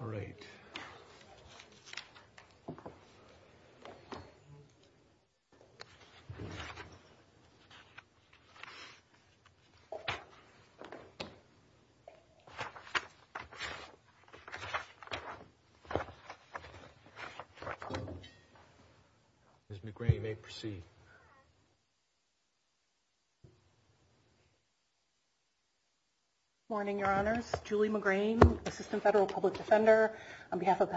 All right. Ms. McGrain may proceed. Morning, your honors. Julie McGrain, assistant federal public defender on behalf of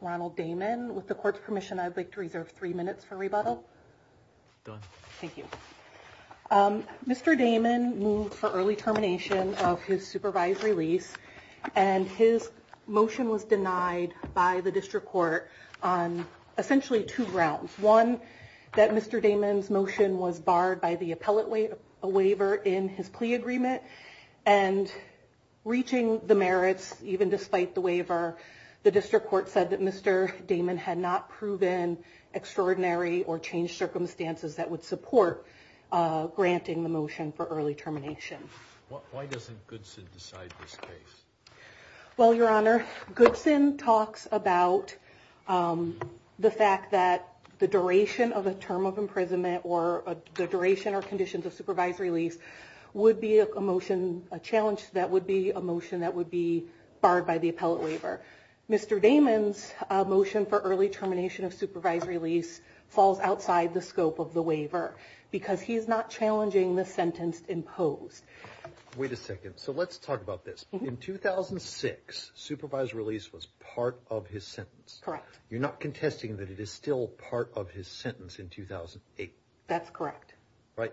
Ronald Damon. With the court's permission, I'd like to reserve three minutes for rebuttal. Thank you. Mr. Damon moved for early termination of his supervisory lease, and his motion was denied by the district court on essentially two grounds. One, that Mr. Damon's motion was barred by the appellate waiver in his plea agreement. And reaching the merits, even despite the waiver, the district court said that Mr. Damon had not proven extraordinary or changed circumstances that would support granting the motion for early termination. Why doesn't Goodson decide this case? Well, your honor, Goodson talks about the fact that the duration of a term of imprisonment or the duration or conditions of supervisory lease would be a motion, a challenge that would be a motion that would be barred by the appellate waiver. Mr. Damon's motion for early termination of supervisory lease falls outside the scope of the waiver because he's not challenging the sentence imposed. Wait a second. So let's talk about this. In 2006, supervisory lease was part of his sentence. Correct. You're not contesting that it is still part of his sentence in 2008? That's correct. Right.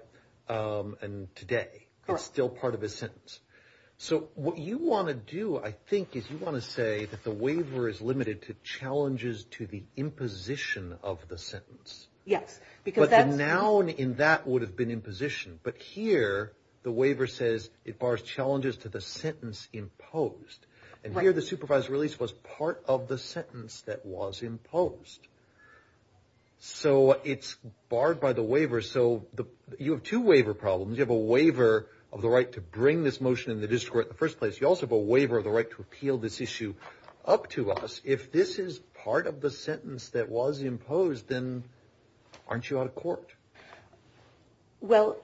And today, it's still part of his sentence. So what you want to do, I think, is you want to say that the waiver is limited to challenges to the imposition of the sentence. Yes. But the noun in that would have been imposition. But here, the waiver says it bars challenges to the sentence imposed. And here, the supervisory lease was part of the sentence that was imposed. So it's barred by the waiver. So you have two waiver problems. You have a waiver of the right to bring this motion in the district court in the first place. You also have a waiver of the right to appeal this issue up to us. If this is part of the sentence that was imposed, then aren't you out of court? Well,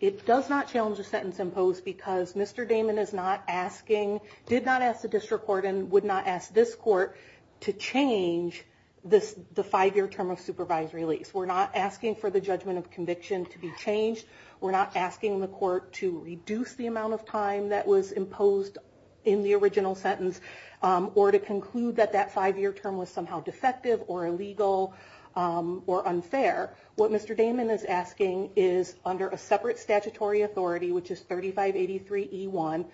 it does not challenge the sentence imposed because Mr. Damon did not ask the district court and would not ask this court to change the five-year term of supervisory lease. We're not asking for the judgment of conviction to be changed. We're not asking the court to reduce the amount of time that was imposed in the original sentence or to conclude that that five-year term was somehow defective or illegal or unfair. What Mr. Damon is asking is under a separate statutory authority, which is 3583E1,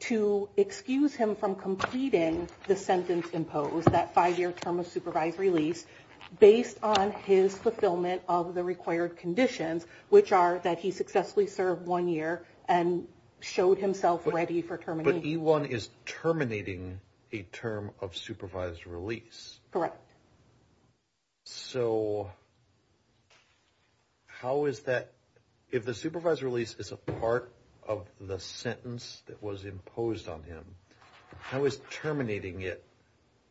to excuse him from completing the sentence imposed, that five-year term of supervisory lease, based on his fulfillment of the required conditions, which are that he successfully served one year and showed himself ready for termination. But E1 is terminating a term of supervisory lease. Correct. So how is that, if the supervisory lease is a part of the sentence that was imposed on him, how is terminating it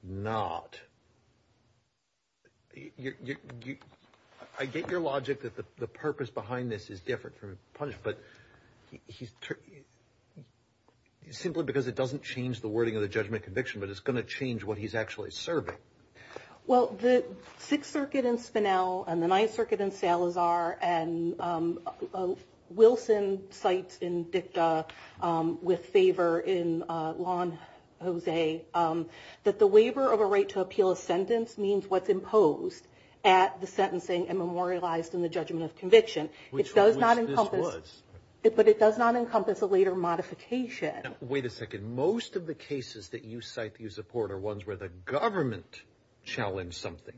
not? I get your logic that the purpose behind this is different from punishment, but simply because it doesn't change the wording of the judgment of conviction, but it's going to change what he's actually serving. Well, the Sixth Circuit in Spinell and the Ninth Circuit in Salazar and Wilson cites in DICTA with favor in Lawn, Jose, that the waiver of a right to appeal a sentence means what's imposed at the sentencing and memorialized in the judgment of conviction. Which this was. But it does not encompass a later modification. Wait a second. Most of the cases that you cite that you support are ones where the government challenged something.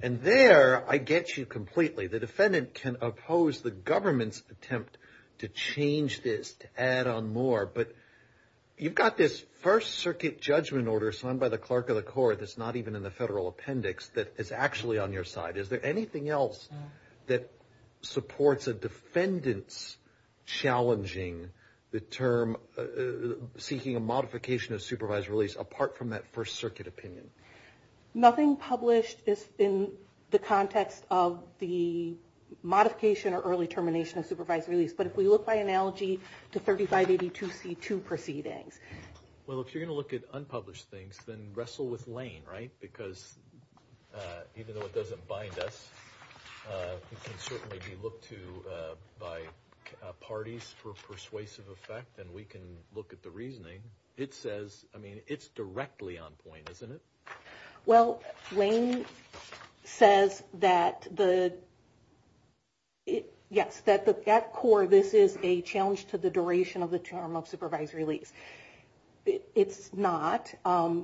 And there I get you completely. The defendant can oppose the government's attempt to change this, to add on more. But you've got this First Circuit judgment order signed by the clerk of the court that's not even in the federal appendix that is actually on your side. Is there anything else that supports a defendant's challenging the term, seeking a modification of supervisory lease, apart from that First Circuit opinion? Nothing published is in the context of the modification or early termination of supervisory lease. But if we look by analogy to 3582C2 proceedings. Well, if you're going to look at unpublished things, then wrestle with Lane, right? Because even though it doesn't bind us, it can certainly be looked to by parties for persuasive effect, and we can look at the reasoning. It says, I mean, it's directly on point, isn't it? Well, Lane says that the, yes, that at core, this is a challenge to the duration of the term of supervisory lease. It's not. Why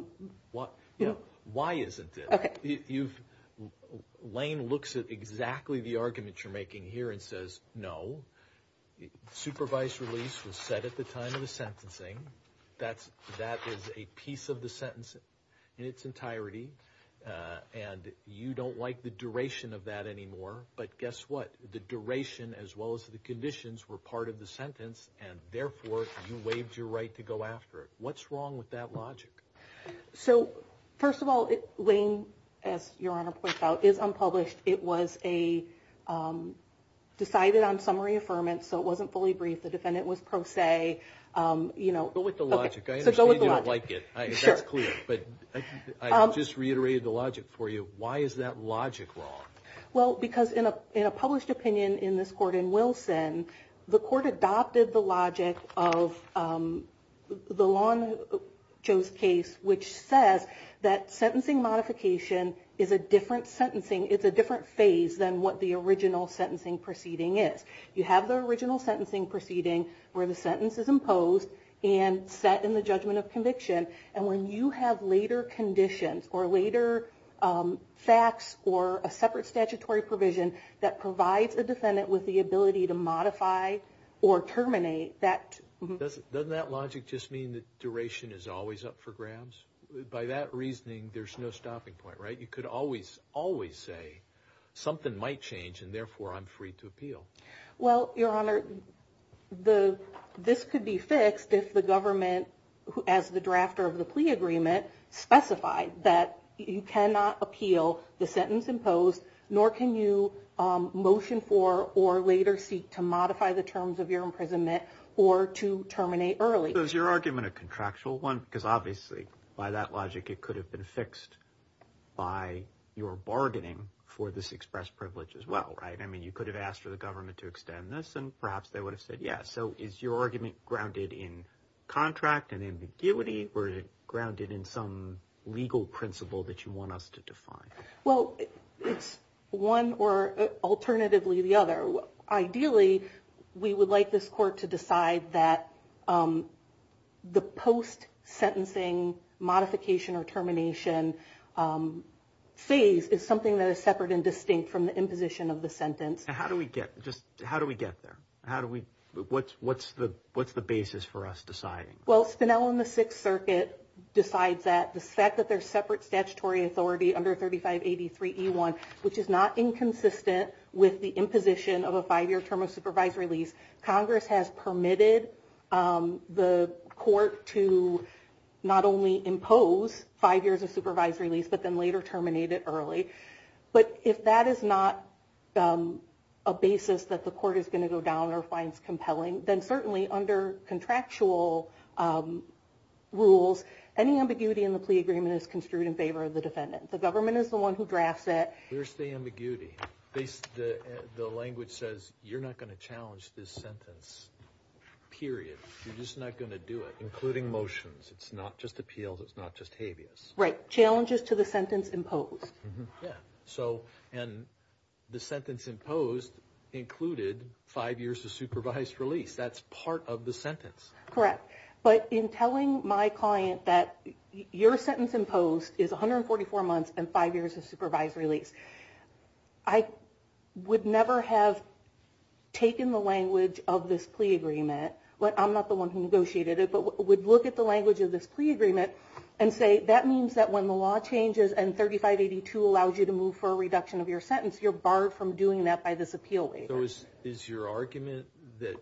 isn't it? Lane looks at exactly the argument you're making here and says no. Supervised release was set at the time of the sentencing. That is a piece of the sentence in its entirety, and you don't like the duration of that anymore. But guess what? The duration as well as the conditions were part of the sentence, and therefore you waived your right to go after it. What's wrong with that logic? So, first of all, Lane, as Your Honor pointed out, is unpublished. It was decided on summary affirmance, so it wasn't fully briefed. The defendant was pro se. Go with the logic. I understand you don't like it. That's clear. But I just reiterated the logic for you. Why is that logic wrong? Well, because in a published opinion in this court in Wilson, the court adopted the logic of the law in Joe's case, which says that sentencing modification is a different phase than what the original sentencing proceeding is. You have the original sentencing proceeding where the sentence is imposed and set in the judgment of conviction. And when you have later conditions or later facts or a separate statutory provision that provides a defendant with the ability to modify or terminate that. Doesn't that logic just mean that duration is always up for grabs? By that reasoning, there's no stopping point, right? You could always, always say something might change, and therefore I'm free to appeal. Well, Your Honor, this could be fixed if the government, as the drafter of the plea agreement, specified that you cannot appeal the sentence imposed, nor can you motion for or later seek to modify the terms of your imprisonment or to terminate early. Is your argument a contractual one? Because obviously by that logic it could have been fixed by your bargaining for this express privilege as well, right? I mean you could have asked for the government to extend this and perhaps they would have said yes. So is your argument grounded in contract and ambiguity or is it grounded in some legal principle that you want us to define? Well, it's one or alternatively the other. Ideally, we would like this court to decide that the post-sentencing modification or termination phase is something that is separate and distinct from the imposition of the sentence. How do we get there? What's the basis for us deciding? Well, Spinell in the Sixth Circuit decides that the fact that there's separate statutory authority under 3583E1, which is not inconsistent with the imposition of a five-year term of supervised release, Congress has permitted the court to not only impose five years of supervised release but then later terminate it early. But if that is not a basis that the court is going to go down or finds compelling, then certainly under contractual rules, any ambiguity in the plea agreement is construed in favor of the defendant. The government is the one who drafts it. Where's the ambiguity? The language says you're not going to challenge this sentence, period. You're just not going to do it, including motions. It's not just appeals. It's not just habeas. Right. Challenges to the sentence imposed. Yeah. And the sentence imposed included five years of supervised release. That's part of the sentence. Correct. But in telling my client that your sentence imposed is 144 months and five years of supervised release, I would never have taken the language of this plea agreement. I'm not the one who negotiated it, but would look at the language of this plea agreement and say, that means that when the law changes and 3582 allows you to move for a reduction of your sentence, you're barred from doing that by this appeal waiver. So is your argument that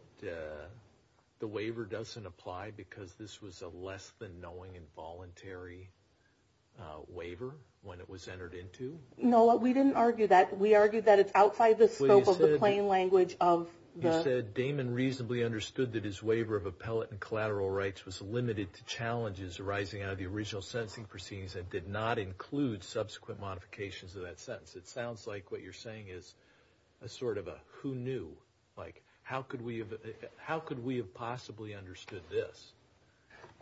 the waiver doesn't apply because this was a less-than-knowing involuntary waiver when it was entered into? No, we didn't argue that. We argued that it's outside the scope of the plain language of the ---- You said, Damon reasonably understood that his waiver of appellate and collateral rights was limited to challenges arising out of the original sentencing proceedings and did not include subsequent modifications of that sentence. It sounds like what you're saying is sort of a who knew. Like, how could we have possibly understood this?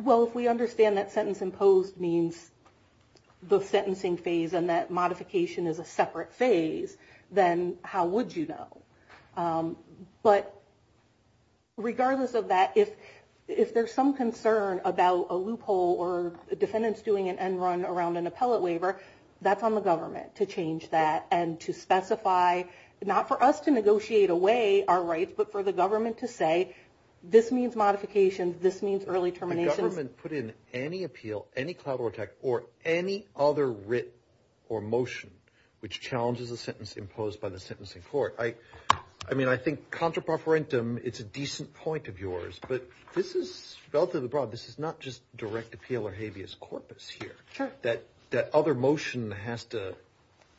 Well, if we understand that sentence imposed means the sentencing phase and that modification is a separate phase, then how would you know? But regardless of that, if there's some concern about a loophole or defendants doing an end run around an appellate waiver, that's on the government to change that and to specify, not for us to negotiate away our rights, but for the government to say this means modifications, this means early terminations. The government put in any appeal, any collateral attack, or any other writ or motion which challenges a sentence imposed by the sentencing court. I mean, I think contra preferentum, it's a decent point of yours, but this is relatively broad. This is not just direct appeal or habeas corpus here. Sure. But that other motion has to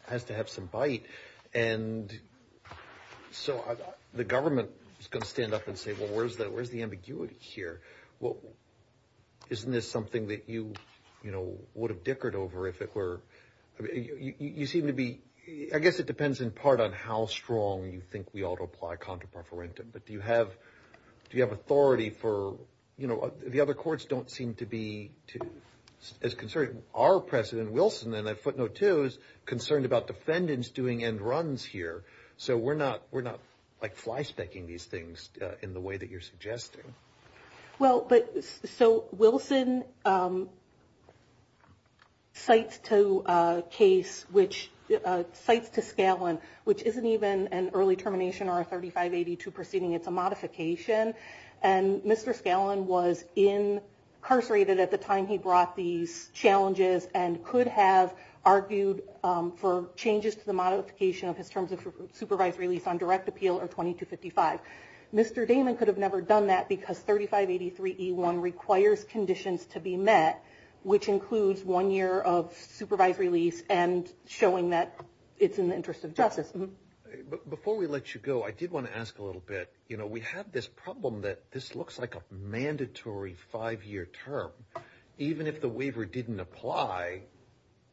have some bite. And so the government is going to stand up and say, well, where's the ambiguity here? Isn't this something that you would have dickered over if it were? You seem to be – I guess it depends in part on how strong you think we ought to apply contra preferentum. But do you have authority for – the other courts don't seem to be as concerned – our president, Wilson, in that footnote, too, is concerned about defendants doing end runs here. So we're not like flyspecking these things in the way that you're suggesting. Well, but – so Wilson cites to a case which – cites to Scallon, which isn't even an early termination or a 3582 proceeding. It's a modification. And Mr. Scallon was incarcerated at the time he brought these challenges and could have argued for changes to the modification of his terms of supervised release on direct appeal or 2255. Mr. Damon could have never done that because 3583E1 requires conditions to be met, which includes one year of supervised release and showing that it's in the interest of justice. Before we let you go, I did want to ask a little bit. You know, we have this problem that this looks like a mandatory five-year term. Even if the waiver didn't apply,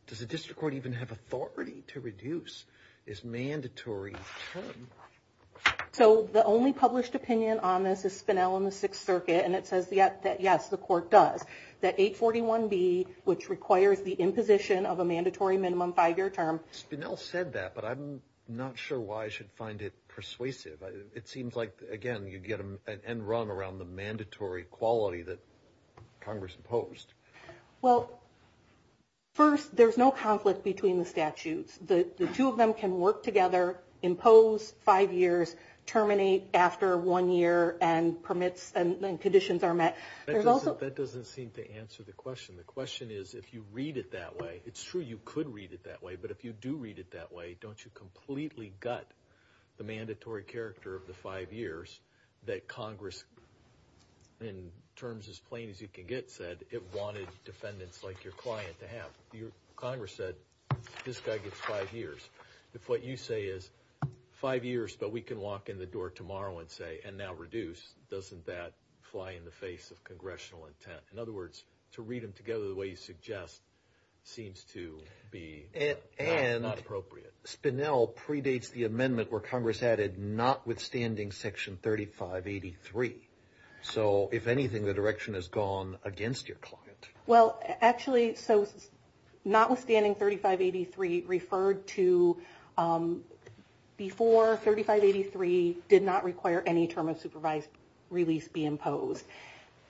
does the district court even have authority to reduce this mandatory term? So the only published opinion on this is Spinell and the Sixth Circuit, and it says that, yes, the court does. That 841B, which requires the imposition of a mandatory minimum five-year term – Spinell said that, but I'm not sure why I should find it persuasive. It seems like, again, you'd get an end run around the mandatory quality that Congress imposed. Well, first, there's no conflict between the statutes. The two of them can work together, impose five years, terminate after one year, and permits and conditions are met. That doesn't seem to answer the question. The question is, if you read it that way – it's true you could read it that way, but if you do read it that way, don't you completely gut the mandatory character of the five years that Congress, in terms as plain as you can get, said it wanted defendants like your client to have? Congress said, this guy gets five years. If what you say is, five years, but we can walk in the door tomorrow and say, and now reduce, doesn't that fly in the face of congressional intent? In other words, to read them together the way you suggest seems to be not appropriate. And Spinell predates the amendment where Congress added, notwithstanding Section 3583. So, if anything, the direction has gone against your client. Well, actually, so notwithstanding 3583 referred to before 3583 did not require any term of supervised release be imposed.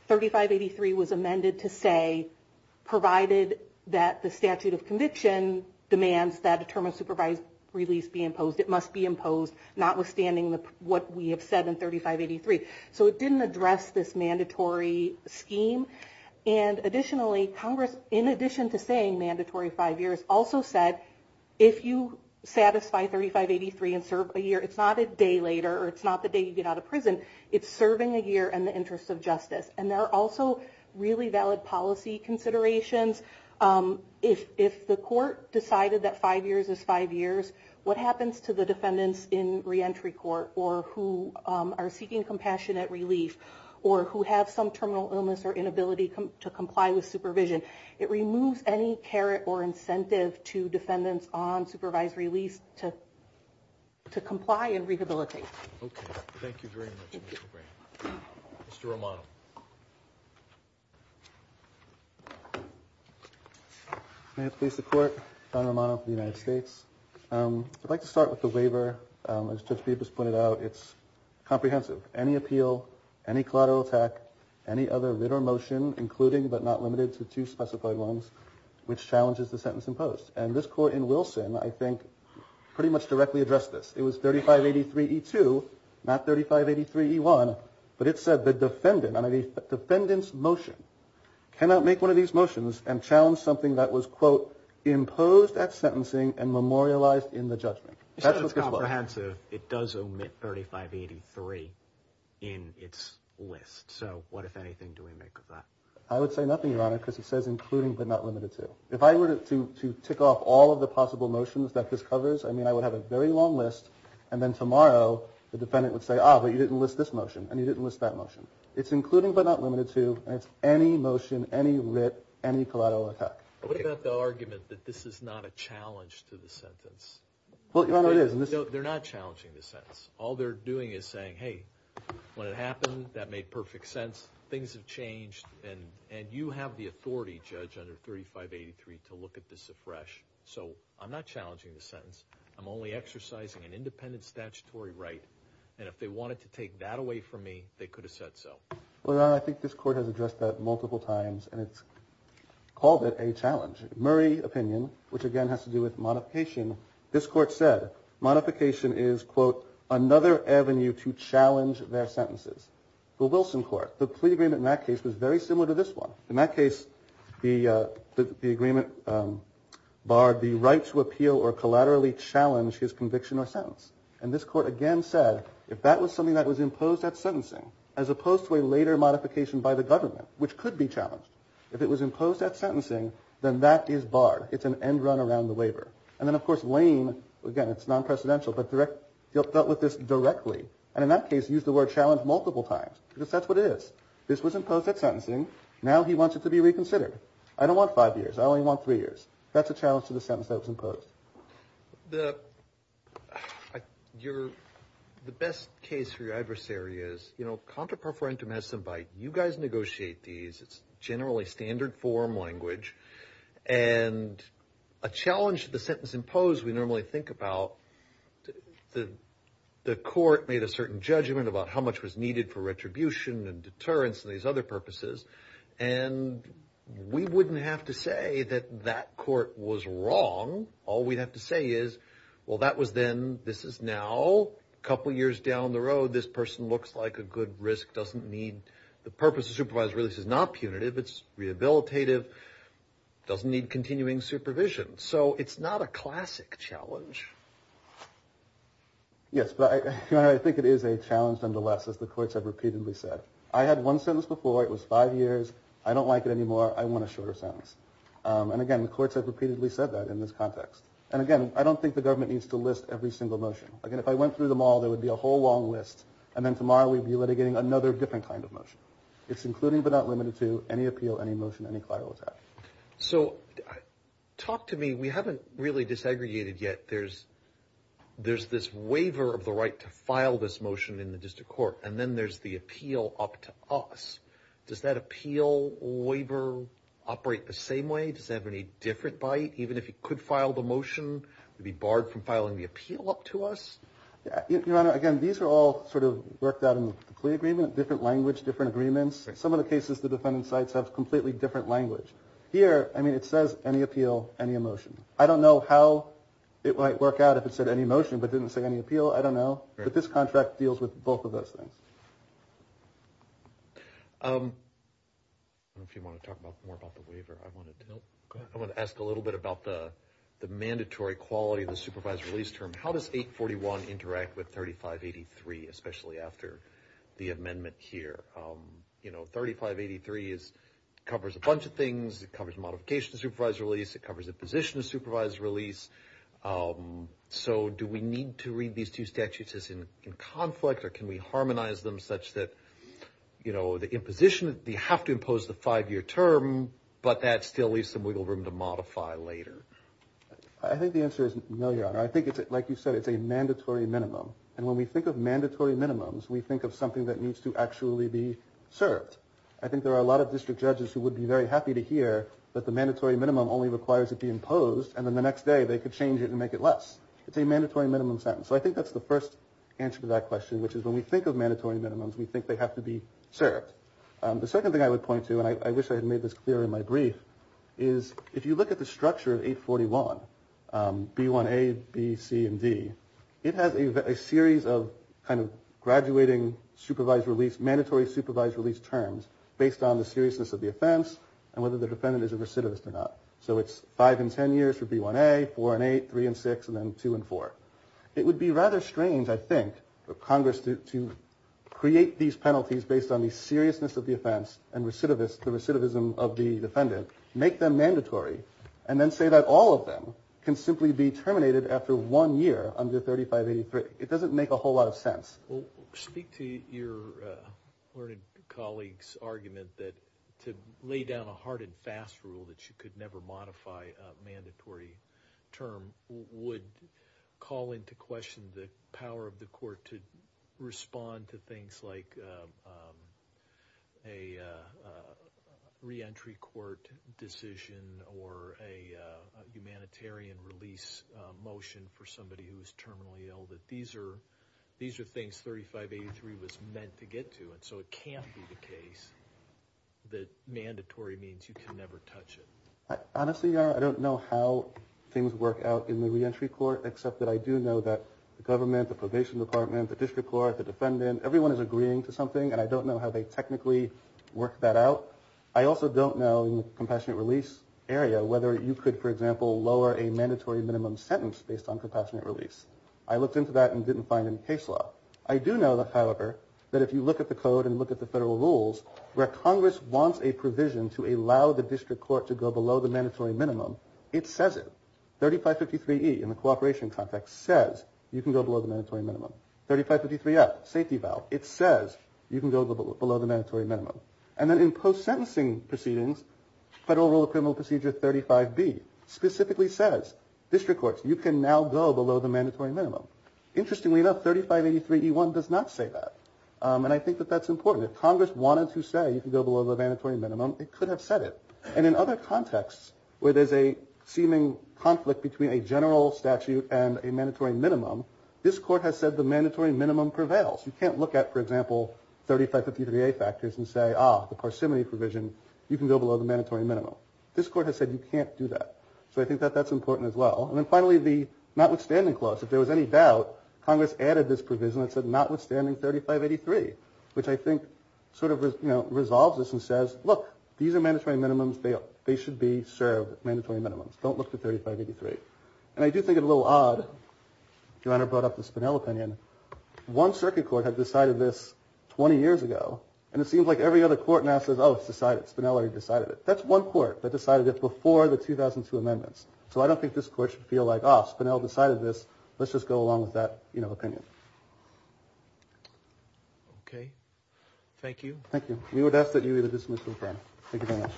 3583 was amended to say, provided that the statute of conviction demands that a term of supervised release be imposed, it must be imposed, notwithstanding what we have said in 3583. So it didn't address this mandatory scheme. And additionally, Congress, in addition to saying mandatory five years, also said, if you satisfy 3583 and serve a year, it's not a day later or it's not the day you get out of prison. It's serving a year in the interest of justice. And there are also really valid policy considerations. If the court decided that five years is five years, what happens to the defendants in reentry court or who are seeking compassionate relief or who have some terminal illness or inability to comply with supervision? It removes any caret or incentive to defendants on supervised release to comply and rehabilitate. Okay. Thank you very much, Mr. Graham. Mr. Romano. May it please the Court, Don Romano for the United States. I'd like to start with the waiver. As Judge Beeb just pointed out, it's comprehensive. Any appeal, any collateral attack, any other writ or motion, including but not limited to two specified loans, which challenges the sentence imposed. And this Court in Wilson, I think, pretty much directly addressed this. It was 3583E2, not 3583E1. But it said the defendant, the defendant's motion, cannot make one of these motions and challenge something that was, quote, imposed at sentencing and memorialized in the judgment. That's what this was. It's comprehensive. It does omit 3583 in its list. So what, if anything, do we make of that? I would say nothing, Your Honor, because it says including but not limited to. If I were to tick off all of the possible motions that this covers, I mean I would have a very long list, and then tomorrow the defendant would say, ah, but you didn't list this motion, and you didn't list that motion. It's including but not limited to, and it's any motion, any writ, any collateral attack. What about the argument that this is not a challenge to the sentence? Well, Your Honor, it is. No, they're not challenging the sentence. All they're doing is saying, hey, when it happened, that made perfect sense, things have changed, and you have the authority, Judge, under 3583 to look at this afresh. So I'm not challenging the sentence. I'm only exercising an independent statutory right, and if they wanted to take that away from me, they could have said so. Well, Your Honor, I think this Court has addressed that multiple times, and it's called it a challenge. Murray opinion, which again has to do with modification, this Court said, modification is, quote, another avenue to challenge their sentences. The Wilson Court, the plea agreement in that case was very similar to this one. In that case, the agreement barred the right to appeal or collaterally challenge his conviction or sentence, and this Court again said if that was something that was imposed at sentencing, as opposed to a later modification by the government, which could be challenged, if it was imposed at sentencing, then that is barred. It's an end run around the waiver. And then, of course, Lane, again, it's non-presidential, but dealt with this directly, and in that case used the word challenge multiple times because that's what it is. This was imposed at sentencing. Now he wants it to be reconsidered. I don't want five years. I only want three years. That's a challenge to the sentence that was imposed. The best case for your adversary is, you know, contra preferentum has some bite. You guys negotiate these. It's generally standard form language, and a challenge to the sentence imposed we normally think about, the court made a certain judgment about how much was needed for retribution and deterrence and these other purposes, and we wouldn't have to say that that court was wrong. All we'd have to say is, well, that was then. This is now. A couple years down the road, this person looks like a good risk, doesn't need. The purpose of supervised release is not punitive. It's rehabilitative, doesn't need continuing supervision. So it's not a classic challenge. Yes, but I think it is a challenge nonetheless, as the courts have repeatedly said. I had one sentence before. It was five years. I don't like it anymore. I want a shorter sentence. And, again, the courts have repeatedly said that in this context. And, again, I don't think the government needs to list every single motion. Again, if I went through them all, there would be a whole long list, and then tomorrow we'd be litigating another different kind of motion. It's including but not limited to any appeal, any motion, any collateral attack. So talk to me. We haven't really desegregated yet. There's this waiver of the right to file this motion in the district court, and then there's the appeal up to us. Does that appeal waiver operate the same way? Does it have any different bite? Even if it could file the motion, would it be barred from filing the appeal up to us? Your Honor, again, these are all sort of worked out in the plea agreement. Different language, different agreements. Some of the cases the defendant's sites have completely different language. Here, I mean, it says any appeal, any motion. I don't know how it might work out if it said any motion but didn't say any appeal. I don't know. But this contract deals with both of those things. I don't know if you want to talk more about the waiver. I want to ask a little bit about the mandatory quality of the supervised release term. How does 841 interact with 3583, especially after the amendment here? You know, 3583 covers a bunch of things. It covers modification of supervised release. It covers imposition of supervised release. So do we need to read these two statutes as in conflict, or can we harmonize them such that, you know, the imposition, you have to impose the five-year term, but that still leaves some wiggle room to modify later? I think the answer is no, Your Honor. I think, like you said, it's a mandatory minimum. And when we think of mandatory minimums, we think of something that needs to actually be served. I think there are a lot of district judges who would be very happy to hear that the mandatory minimum only requires it be imposed, and then the next day they could change it and make it less. It's a mandatory minimum sentence. So I think that's the first answer to that question, which is when we think of mandatory minimums, we think they have to be served. The second thing I would point to, and I wish I had made this clear in my brief, is if you look at the structure of 841, B1A, B, C, and D, it has a series of kind of graduating supervised release, mandatory supervised release terms based on the seriousness of the offense and whether the defendant is a recidivist or not. So it's 5 and 10 years for B1A, 4 and 8, 3 and 6, and then 2 and 4. It would be rather strange, I think, for Congress to create these penalties based on the seriousness of the offense and the recidivism of the defendant, make them mandatory, and then say that all of them can simply be terminated after one year under 3583. It doesn't make a whole lot of sense. Speak to your learned colleague's argument that to lay down a hard and fast rule that you could never modify a mandatory term would call into question the power of the court to respond to things like a reentry court decision or a humanitarian release motion for somebody who is terminally ill, that these are things 3583 was meant to get to, and so it can't be the case that mandatory means you can never touch it. Honestly, I don't know how things work out in the reentry court, except that I do know that the government, the probation department, the district court, the defendant, everyone is agreeing to something, and I don't know how they technically work that out. I also don't know, in the compassionate release area, whether you could, for example, lower a mandatory minimum sentence based on compassionate release. I looked into that and didn't find any case law. I do know, however, that if you look at the code and look at the federal rules, where Congress wants a provision to allow the district court to go below the mandatory minimum, it says it. 3553E in the cooperation context says you can go below the mandatory minimum. 3553F, safety valve, it says you can go below the mandatory minimum. And then in post-sentencing proceedings, federal rule of criminal procedure 35B specifically says district courts, you can now go below the mandatory minimum. Interestingly enough, 3583E1 does not say that, and I think that that's important. If Congress wanted to say you can go below the mandatory minimum, it could have said it. And in other contexts where there's a seeming conflict between a general statute and a mandatory minimum, this court has said the mandatory minimum prevails. You can't look at, for example, 3553A factors and say, ah, the parsimony provision, you can go below the mandatory minimum. This court has said you can't do that. So I think that that's important as well. And then finally, the notwithstanding clause. If there was any doubt, Congress added this provision that said notwithstanding 3583, which I think sort of resolves this and says, look, these are mandatory minimums. They should be served, mandatory minimums. Don't look to 3583. And I do think it's a little odd. Your Honor brought up the Spinell opinion. One circuit court had decided this 20 years ago, and it seems like every other court now says, oh, it's decided. Spinell already decided it. That's one court that decided it before the 2002 amendments. So I don't think this court should feel like, ah, Spinell decided this. Let's just go along with that, you know, opinion. Okay. Thank you. We would ask that you either dismiss or affirm. Thank you very much.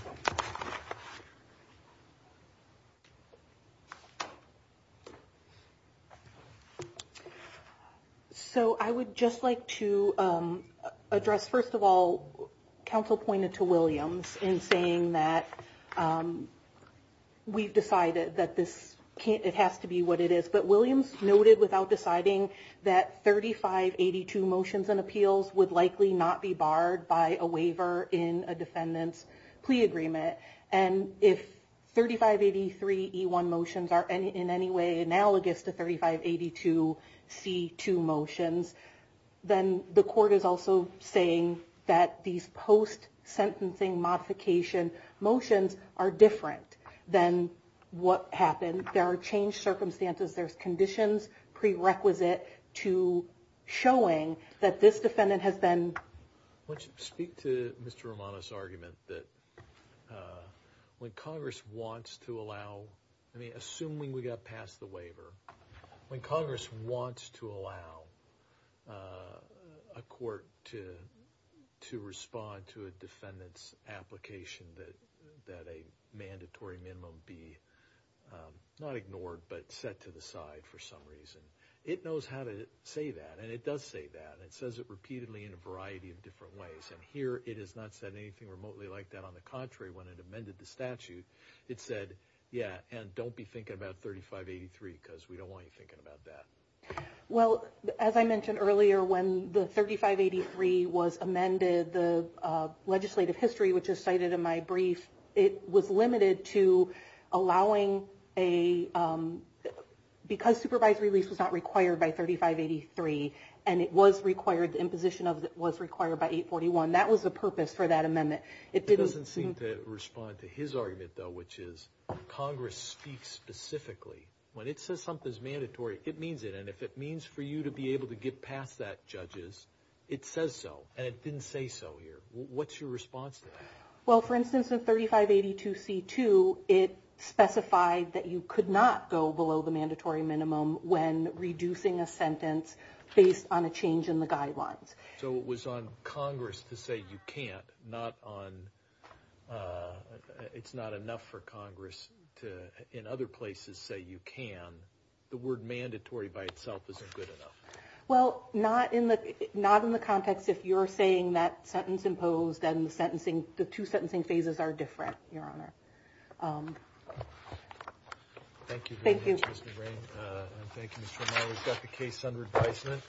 So I would just like to address, first of all, counsel pointed to Williams in saying that we've decided that it has to be what it is. But Williams noted without deciding that 3582 motions and appeals would likely not be barred by a waiver in a defendant's plea agreement. And if 3583E1 motions are in any way analogous to 3582C2 motions, then the court is also saying that these post-sentencing modification motions are different than what happened. There are changed circumstances. There's conditions prerequisite to showing that this defendant has been. Why don't you speak to Mr. Romano's argument that when Congress wants to allow, I mean, assuming we got past the waiver, when Congress wants to allow a court to respond to a defendant's application that a mandatory minimum be not ignored but set to the side for some reason. It knows how to say that, and it does say that. It says it repeatedly in a variety of different ways. And here it has not said anything remotely like that. On the contrary, when it amended the statute, it said, yeah, and don't be thinking about 3583 because we don't want you thinking about that. Well, as I mentioned earlier, when the 3583 was amended, the legislative history, which is cited in my brief, it was limited to allowing a – because supervised release was not required by 3583, and it was required, the imposition of it was required by 841. That was the purpose for that amendment. It didn't seem to respond to his argument, though, which is Congress speaks specifically. When it says something is mandatory, it means it. And if it means for you to be able to get past that, judges, it says so. And it didn't say so here. What's your response to that? Well, for instance, in 3582C2, it specified that you could not go below the mandatory minimum when reducing a sentence based on a change in the guidelines. So it was on Congress to say you can't, not on – it's not enough for Congress to, in other places, say you can. The word mandatory by itself isn't good enough. Well, not in the – not in the context if you're saying that sentence imposed and the sentencing – the two sentencing phases are different, Your Honor. Thank you very much, Ms. McBrain. Thank you. And thank you, Mr. O'Malley. We've got the case under advisement.